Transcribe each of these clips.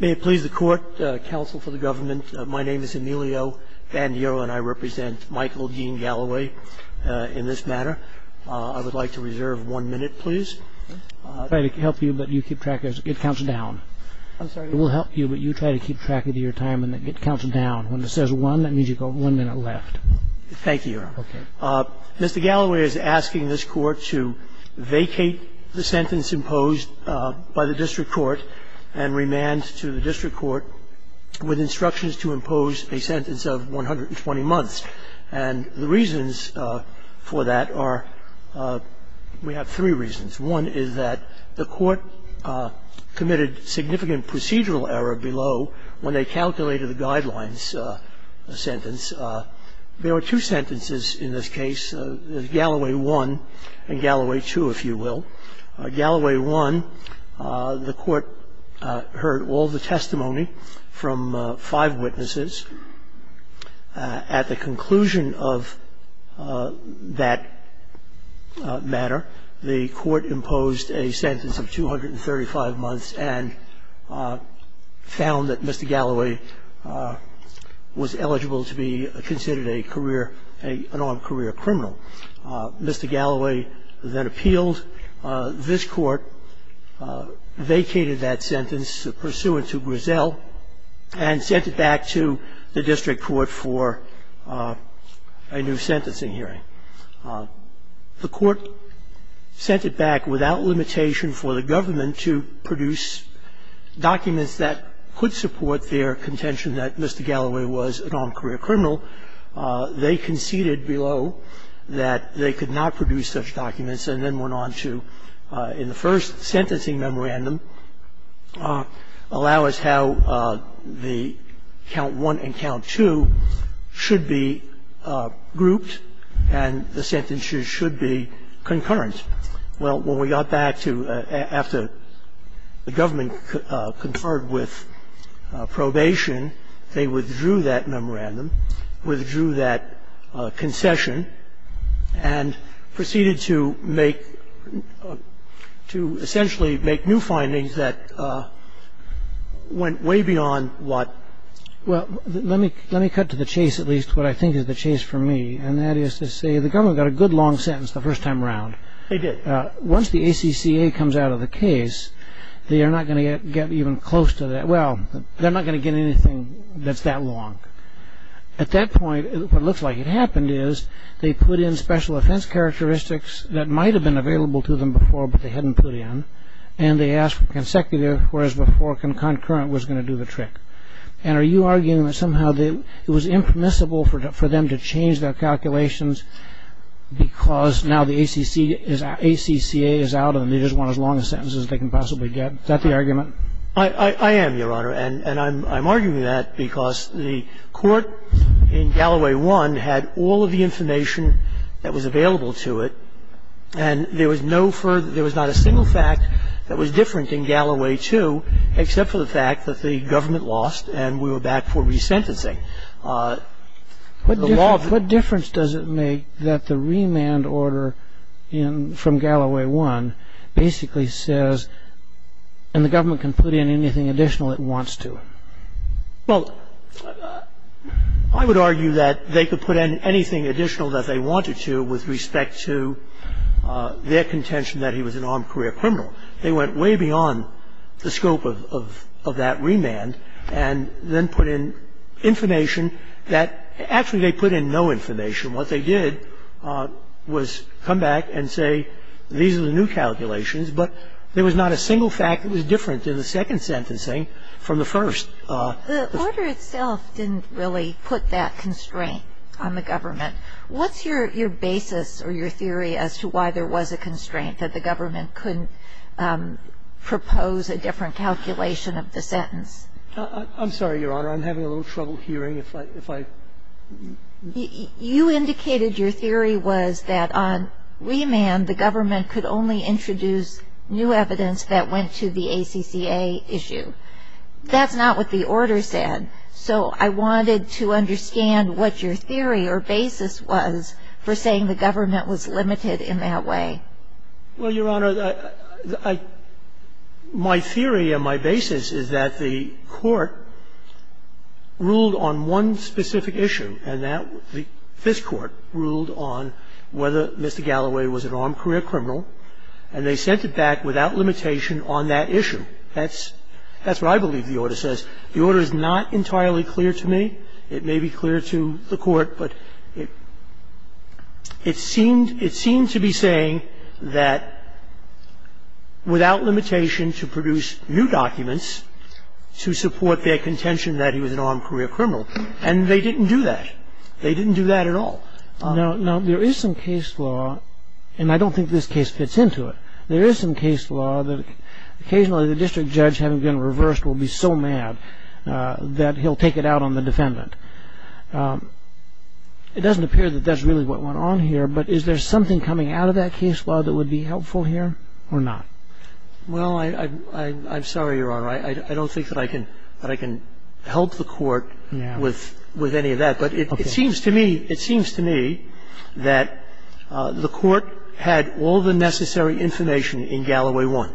May it please the court, counsel for the government, my name is Emilio Bandeiro and I represent Michael Dean Galloway in this matter. I would like to reserve one minute, please. I'll try to help you, but you keep track of your time and get counsel down. When it says one, that means you've got one minute left. Thank you. Mr. Galloway is asking this court to vacate the sentence imposed by the district court and remand to the district court with instructions to impose a sentence of 120 months. And the reasons for that are, we have three reasons. One is that the court committed significant procedural error below when they calculated the guidelines sentence. There are two sentences in this case, Galloway 1 and Galloway 2, if you will. Galloway 1, the court heard all the testimony from five witnesses. At the conclusion of that matter, the court imposed a sentence of 235 months and found that Mr. Galloway was eligible to be considered a career, an armed career criminal. Mr. Galloway then appealed. This court vacated that sentence pursuant to Grisel and sent it back to the district court for a new sentencing hearing. The court sent it back without limitation for the government to produce documents that could support their contention that Mr. Galloway was an armed career criminal. They conceded below that they could not produce such documents and then went on to, in the first sentencing memorandum, allow us how the count 1 and count 2 should be grouped and the sentences should be concurrent. Well, when we got back to after the government conferred with probation, they withdrew that memorandum, withdrew that concession, and proceeded to make, to essentially make new findings that went way beyond what. Well, let me cut to the chase at least, what I think is the chase for me, and that is to say the government got a good long sentence the first time around. They did. Once the ACCA comes out of the case, they are not going to get even close to that. Well, they're not going to get anything that's that long. At that point, what looks like it happened is they put in special offense characteristics that might have been available to them before but they hadn't put in, and they asked for consecutive whereas before concurrent was going to do the trick. And are you arguing that somehow it was impermissible for them to change their calculations because now the ACCA is out and they just want as long a sentence as they can possibly get? Is that the argument? I am, Your Honor, and I'm arguing that because the court in Galloway 1 had all of the information that was available to it, and there was no further, there was not a single fact that was different in Galloway 2 except for the fact that the government lost and we were back for resentencing. What difference does it make that the remand order from Galloway 1 basically says, and the government can put in anything additional it wants to? Well, I would argue that they could put in anything additional that they wanted to with respect to their contention that he was an armed career criminal. They went way beyond the scope of that remand and then put in information that actually they put in no information. What they did was come back and say these are the new calculations, but there was not a single fact that was different in the second sentencing from the first. The order itself didn't really put that constraint on the government. What's your basis or your theory as to why there was a constraint that the government couldn't propose a different calculation of the sentence? I'm sorry, Your Honor. I'm having a little trouble hearing. You indicated your theory was that on remand the government could only introduce new evidence that went to the ACCA issue. That's not what the order said. So I wanted to understand what your theory or basis was for saying the government was limited in that way. Well, Your Honor, I – my theory and my basis is that the Court ruled on one specific issue, and that this Court ruled on whether Mr. Galloway was an armed career criminal, and they sent it back without limitation on that issue. That's what I believe the order says. The order is not entirely clear to me. It may be clear to the Court, but it seems to be saying that without limitation to produce new documents to support their contention that he was an armed career criminal, and they didn't do that. They didn't do that at all. Now, there is some case law, and I don't think this case fits into it. There is some case law that occasionally the district judge, having been reversed, will be so mad that he'll take it out on the defendant. It doesn't appear that that's really what went on here, but is there something coming out of that case law that would be helpful here or not? Well, I'm sorry, Your Honor. I don't think that I can help the Court with any of that. But it seems to me that the Court had all the necessary information in Galloway I.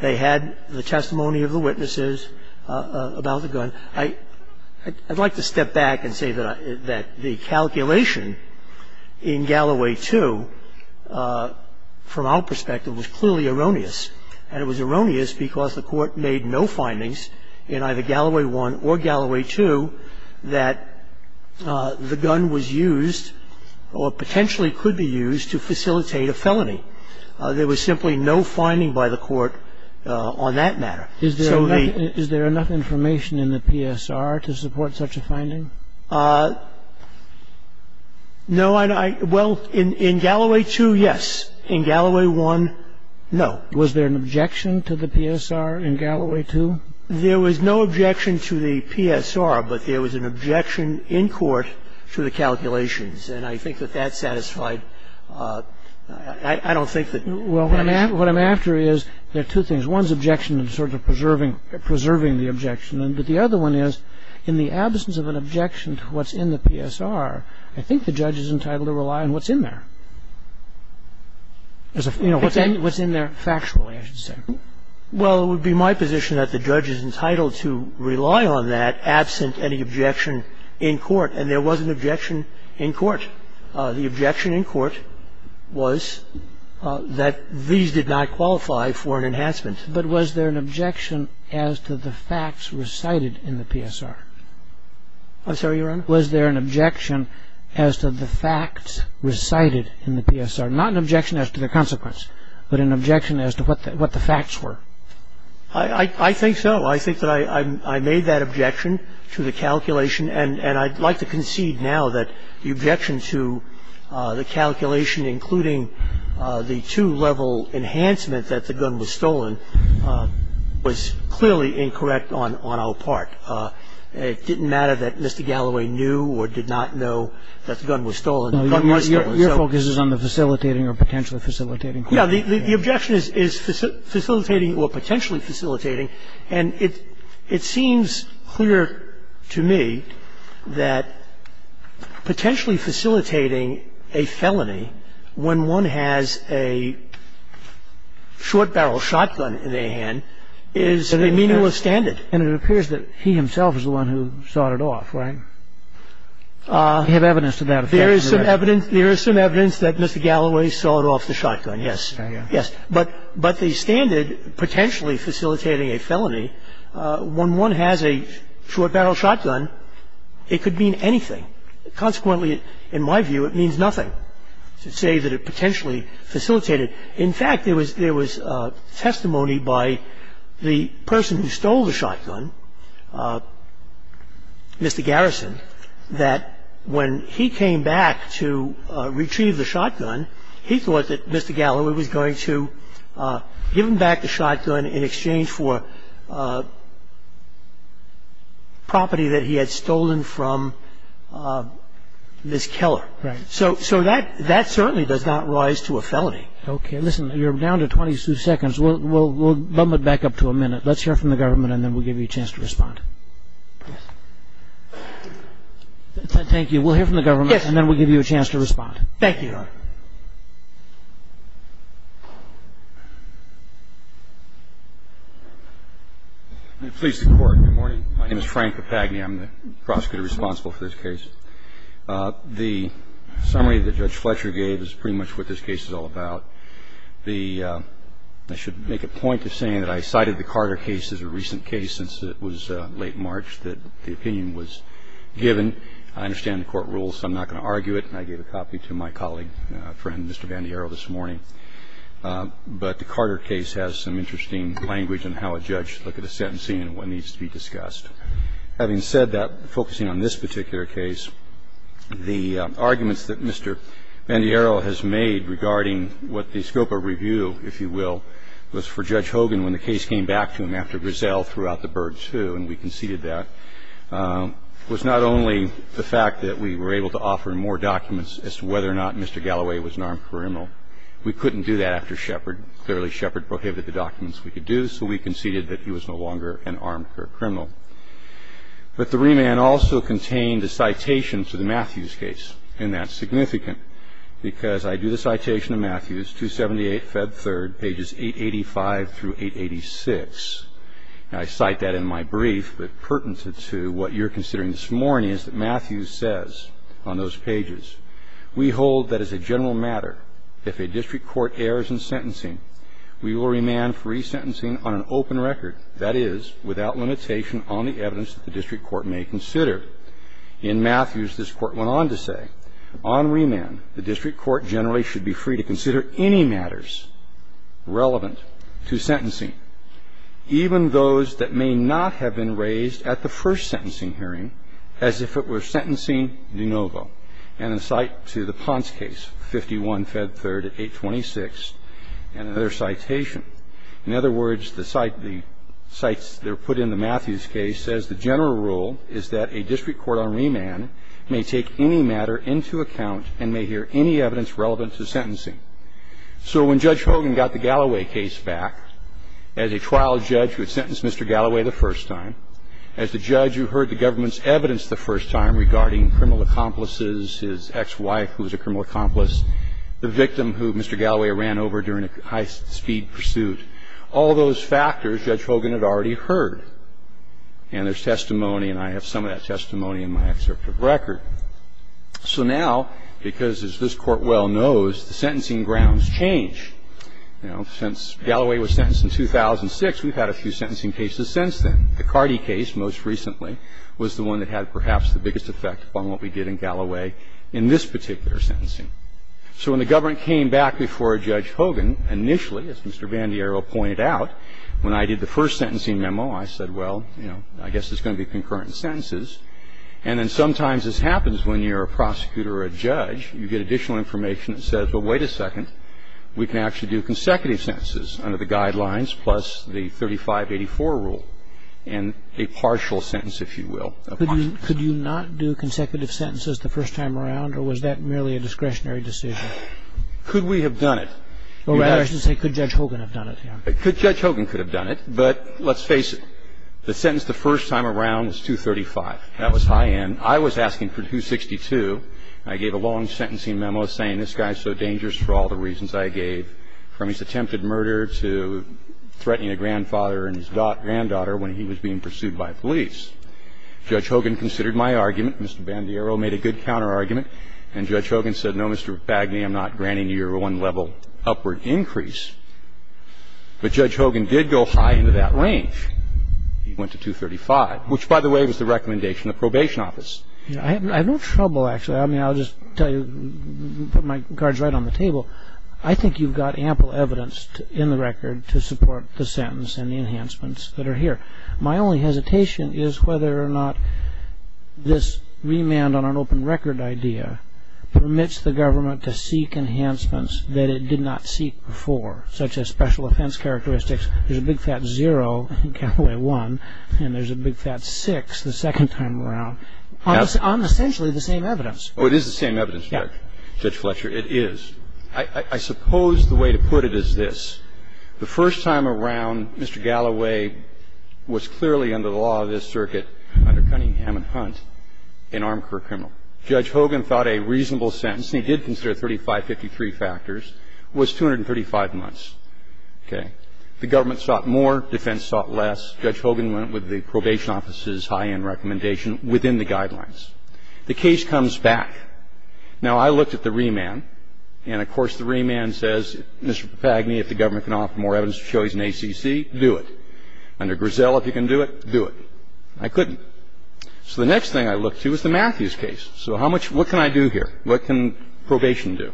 They had the testimony of the witnesses about the gun. I'd like to step back and say that the calculation in Galloway II, from our perspective, was clearly erroneous. And it was erroneous because the Court made no findings in either Galloway I or Galloway II that the gun was used or potentially could be used to facilitate a felony. There was simply no finding by the Court on that matter. So the ---- Is there enough information in the PSR to support such a finding? No. Well, in Galloway II, yes. In Galloway I, no. Was there an objection to the PSR in Galloway II? There was no objection to the PSR, but there was an objection in court to the calculations. And I think that that satisfied ---- I don't think that ---- Well, what I'm after is there are two things. One is objection and sort of preserving the objection. But the other one is in the absence of an objection to what's in the PSR, I think the judge is entitled to rely on what's in there. You know, what's in there factually, I should say. Well, it would be my position that the judge is entitled to rely on that absent any objection in court. And there was an objection in court. The objection in court was that these did not qualify for an enhancement. But was there an objection as to the facts recited in the PSR? I'm sorry, Your Honor? Was there an objection as to the facts recited in the PSR? Not an objection as to the consequence, but an objection as to what the facts were. I think so. I think that I made that objection to the calculation. And I'd like to concede now that the objection to the calculation, including the two-level enhancement that the gun was stolen, was clearly incorrect on our part. It didn't matter that Mr. Galloway knew or did not know that the gun was stolen. The gun was stolen. Your focus is on the facilitating or potentially facilitating. The objection is facilitating or potentially facilitating. And it seems clear to me that potentially facilitating a felony when one has a short barrel shotgun in their hand is a meaningless standard. And it appears that he himself is the one who sawed it off, right? We have evidence to that effect. There is some evidence that Mr. Galloway sawed off the shotgun, yes. But the standard potentially facilitating a felony when one has a short barrel shotgun, it could mean anything. Consequently, in my view, it means nothing to say that it potentially facilitated. In fact, there was testimony by the person who stole the shotgun, Mr. Garrison, that when he came back to retrieve the shotgun, he thought that Mr. Galloway was going to give him back the shotgun in exchange for property that he had stolen from this killer. Right. So that certainly does not rise to a felony. Okay. Listen, you're down to 22 seconds. We'll bump it back up to a minute. Let's hear from the government, and then we'll give you a chance to respond. Thank you. I'm going to please the Court. Good morning. My name is Frank Papagni. I'm the prosecutor responsible for this case. The summary that Judge Fletcher gave is pretty much what this case is all about. The ‑‑ I should make a point of saying that I cited the Carter case as a recent case since it was late March, that the opinion was given. I understand the court rules, so I'm not going to argue it, and I gave a copy to him my colleague, a friend, Mr. Vandiero, this morning. But the Carter case has some interesting language in how a judge looks at a sentencing and what needs to be discussed. Having said that, focusing on this particular case, the arguments that Mr. Vandiero has made regarding what the scope of review, if you will, was for Judge Hogan when the case came back to him after Griselle threw out the bird, too, and we conceded that, was not only the fact that we were able to offer more documents as to whether or not Mr. Galloway was an armed criminal. We couldn't do that after Shepard. Clearly, Shepard prohibited the documents we could do, so we conceded that he was no longer an armed criminal. But the remand also contained a citation to the Matthews case, and that's significant because I do the citation of Matthews, 278, Feb. 3, pages 885 through 886. I cite that in my brief, but pertinent to what you're considering this morning is that Matthews says on those pages, We hold that as a general matter, if a district court errs in sentencing, we will remand free sentencing on an open record, that is, without limitation on the evidence the district court may consider. In Matthews, this court went on to say, On remand, the district court generally should be free to consider any matters relevant to sentencing. Even those that may not have been raised at the first sentencing hearing as if it were sentencing de novo. And I cite to the Ponce case, 51, Feb. 3, at 826, and another citation. In other words, the cite the cites that are put in the Matthews case says the general rule is that a district court on remand may take any matter into account and may hear any evidence relevant to sentencing. So when Judge Hogan got the Galloway case back, as a trial judge who had sentenced Mr. Galloway the first time, as the judge who heard the government's evidence the first time regarding criminal accomplices, his ex-wife who was a criminal accomplice, the victim who Mr. Galloway ran over during a high-speed pursuit, all those factors Judge Hogan had already heard. And there's testimony, and I have some of that testimony in my excerpt of record. So now, because as this Court well knows, the sentencing grounds change. You know, since Galloway was sentenced in 2006, we've had a few sentencing cases since then. The Cardi case, most recently, was the one that had perhaps the biggest effect upon what we did in Galloway in this particular sentencing. So when the government came back before Judge Hogan, initially, as Mr. Vandiero pointed out, when I did the first sentencing memo, I said, well, you know, I guess it's going to be concurrent in sentences. And then sometimes this happens when you're a prosecutor or a judge. You get additional information that says, well, wait a second. We can actually do consecutive sentences under the guidelines, plus the 3584 rule, and a partial sentence, if you will. Could you not do consecutive sentences the first time around, or was that merely a discretionary decision? Could we have done it? Or rather, I should say, could Judge Hogan have done it? Judge Hogan could have done it, but let's face it. The sentence the first time around was 235. That was high end. I was asking for 262. I gave a long sentencing memo saying this guy is so dangerous for all the reasons I gave, from his attempted murder to threatening a grandfather and his granddaughter when he was being pursued by police. Judge Hogan considered my argument. Mr. Vandiero made a good counterargument. And Judge Hogan said, no, Mr. McFagney, I'm not granting you your one-level upward increase. But Judge Hogan did go high into that range. He went to 235, which, by the way, was the recommendation of probation office. I have no trouble, actually. I mean, I'll just tell you, put my cards right on the table. I think you've got ample evidence in the record to support the sentence and the enhancements that are here. My only hesitation is whether or not this remand on an open record idea permits the government to seek enhancements that it did not seek before, such as special offense characteristics. There's a Big Fat 0 in Galloway 1, and there's a Big Fat 6 the second time around, on essentially the same evidence. Oh, it is the same evidence, Judge. Yeah. Judge Fletcher, it is. I suppose the way to put it is this. The first time around, Mr. Galloway was clearly under the law of this circuit under Cunningham and Hunt, an armed career criminal. Judge Hogan thought a reasonable sentence, and he did consider 3553 factors, was 235 months, okay? The government sought more, defense sought less. Judge Hogan went with the probation office's high-end recommendation within the guidelines. The case comes back. Now, I looked at the remand, and of course, the remand says, Mr. Papagni, if the government can offer more evidence of choice in ACC, do it. Under Grisell, if you can do it, do it. I couldn't. So the next thing I looked to was the Matthews case. So how much – what can I do here? What can probation do?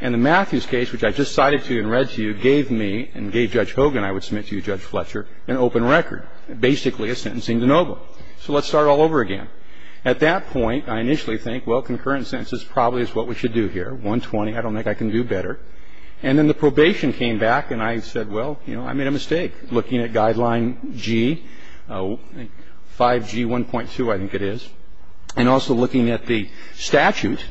And the Matthews case, which I just cited to you and read to you, gave me and gave Judge Hogan, I would submit to you, Judge Fletcher, an open record, basically a sentencing de novo. So let's start all over again. At that point, I initially think, well, concurrent sentences probably is what we should do here, 120. I don't think I can do better. And then the probation came back, and I said, well, you know, I made a mistake. Looking at Guideline G, 5G1.2, I think it is, and also looking at the statute,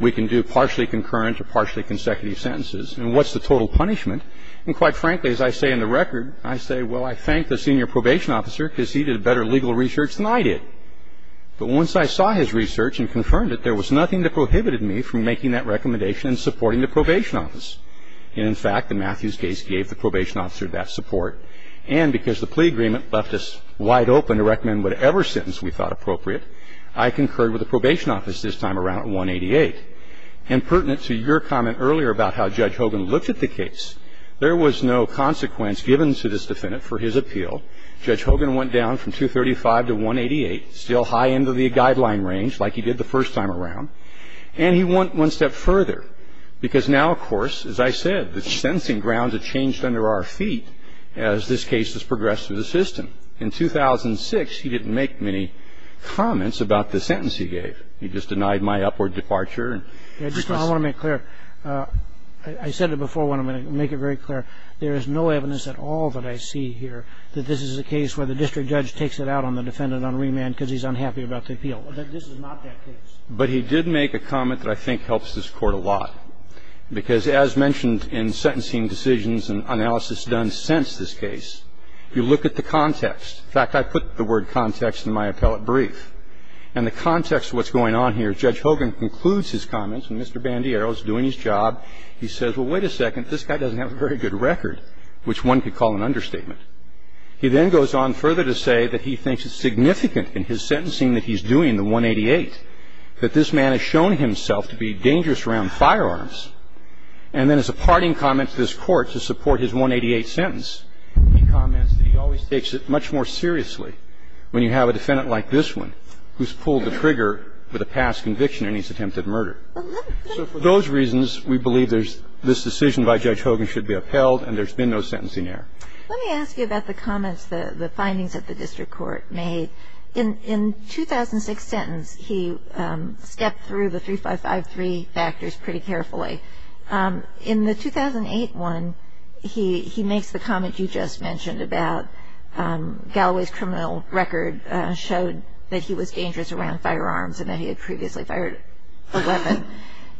we can do partially concurrent or partially consecutive sentences. And what's the total punishment? And quite frankly, as I say in the record, I say, well, I thank the senior probation officer because he did better legal research than I did. But once I saw his research and confirmed it, there was nothing that prohibited me from making that recommendation and supporting the probation office. And in fact, the Matthews case gave the probation officer that support. And because the plea agreement left us wide open to recommend whatever sentence we thought appropriate, I concurred with the probation office this time around at 188. And pertinent to your comment earlier about how Judge Hogan looked at the case, there was no consequence given to this defendant for his appeal. Judge Hogan went down from 235 to 188, still high into the guideline range like he did the first time around. And he went one step further because now, of course, as I said, the sentencing grounds have changed under our feet as this case has progressed through the system. In 2006, he didn't make many comments about the sentence he gave. He just denied my upward departure. And because of that, I'm going to make it clear. I said it before when I'm going to make it very clear. There is no evidence at all that I see here that this is a case where the district judge takes it out on the defendant on remand because he's unhappy about the appeal. This is not that case. But he did make a comment that I think helps this Court a lot. Because as mentioned in sentencing decisions and analysis done since this case, you look at the context. In fact, I put the word context in my appellate brief. And the context of what's going on here is Judge Hogan concludes his comments and Mr. Bandiero is doing his job. He says, well, wait a second, this guy doesn't have a very good record, which one could call an understatement. He then goes on further to say that he thinks it's significant in his sentencing that he's doing the 188, that this man has shown himself to be dangerous around firearms. And then as a parting comment to this Court to support his 188 sentence, he comments that he always takes it much more seriously when you have a defendant like this one who's pulled the trigger with a past conviction and he's attempted murder. So for those reasons, we believe there's this decision by Judge Hogan should be upheld and there's been no sentencing error. Let me ask you about the comments, the findings that the district court made. In 2006 sentence, he stepped through the 3553 factors pretty carefully. In the 2008 one, he makes the comment you just mentioned about Galloway's criminal record showed that he was dangerous around firearms and that he had previously fired a weapon.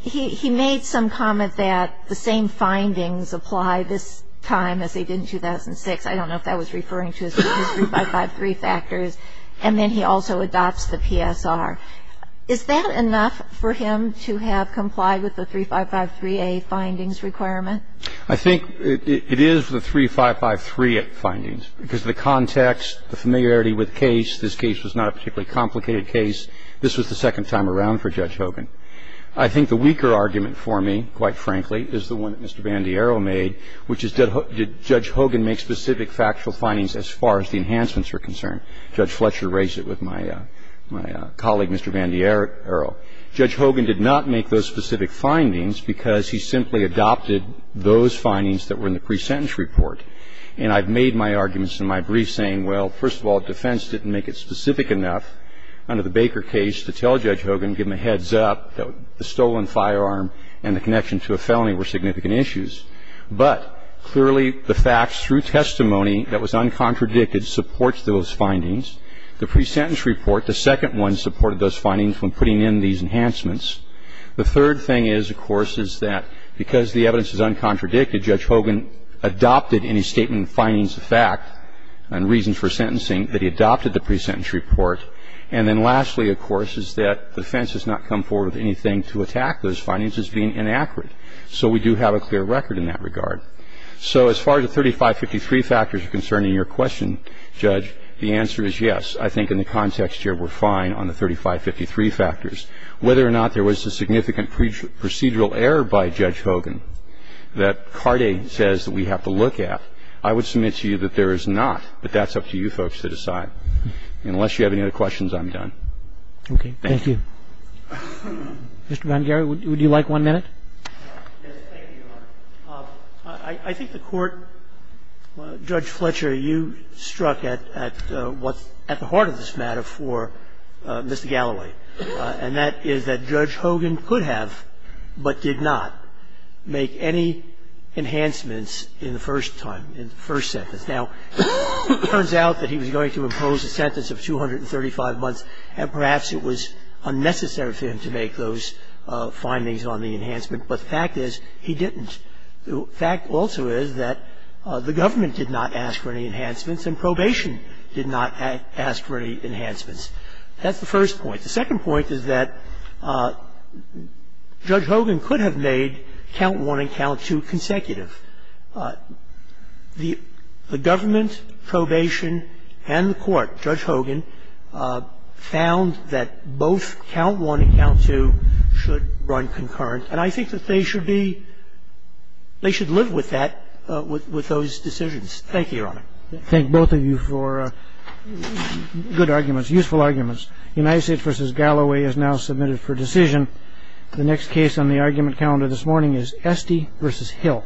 He made some comment that the same findings apply this time as they did in 2006. I don't know if that was referring to his 3553 factors. And then he also adopts the PSR. Is that enough for him to have complied with the 3553A findings requirement? I think it is the 3553 findings because of the context, the familiarity with the case. This case was not a particularly complicated case. This was the second time around for Judge Hogan. I think the weaker argument for me, quite frankly, is the one that Mr. Bandiero made, which is did Judge Hogan make specific factual findings as far as the enhancements were concerned. Judge Fletcher raised it with my colleague, Mr. Bandiero. Judge Hogan did not make those specific findings because he simply adopted those findings that were in the presentence report. And I've made my arguments in my brief saying, well, first of all, defense didn't make it specific enough under the Baker case to tell Judge Hogan, give him a heads up, that the stolen firearm and the connection to a felony were significant issues. But, clearly, the facts through testimony that was uncontradicted supports those findings. The presentence report, the second one, supported those findings when putting in these enhancements. The third thing is, of course, is that because the evidence is uncontradicted, Judge Hogan adopted in his statement the findings of fact and reasons for sentencing that he adopted the presentence report. And then lastly, of course, is that defense has not come forward with anything to attack those findings as being inaccurate. So we do have a clear record in that regard. So as far as the 3553 factors are concerned in your question, Judge, the answer is yes. I think in the context here we're fine on the 3553 factors. Whether or not there was a significant procedural error by Judge Hogan that Carde says that we have to look at, I would submit to you that there is not, but that's up to you folks to decide. Unless you have any other questions, I'm done. Thank you. Mr. Vangieri, would you like one minute? Yes, thank you, Your Honor. I think the Court, Judge Fletcher, you struck at what's at the heart of this matter for Mr. Galloway, and that is that Judge Hogan could have but did not make any enhancements in the first time, in the first sentence. Now, it turns out that he was going to impose a sentence of 235 months, and perhaps it was unnecessary for him to make those findings on the enhancement, but the fact is he didn't. The fact also is that the government did not ask for any enhancements, and probation did not ask for any enhancements. That's the first point. The second point is that Judge Hogan could have made count one and count two consecutive. The government, probation, and the Court, Judge Hogan, found that both count one and count two should run concurrent, and I think that they should be, they should live with that, with those decisions. Thank you, Your Honor. Thank both of you for good arguments, useful arguments. United States v. Galloway is now submitted for decision. The next case on the argument calendar this morning is Esty v. Hill. Thank you.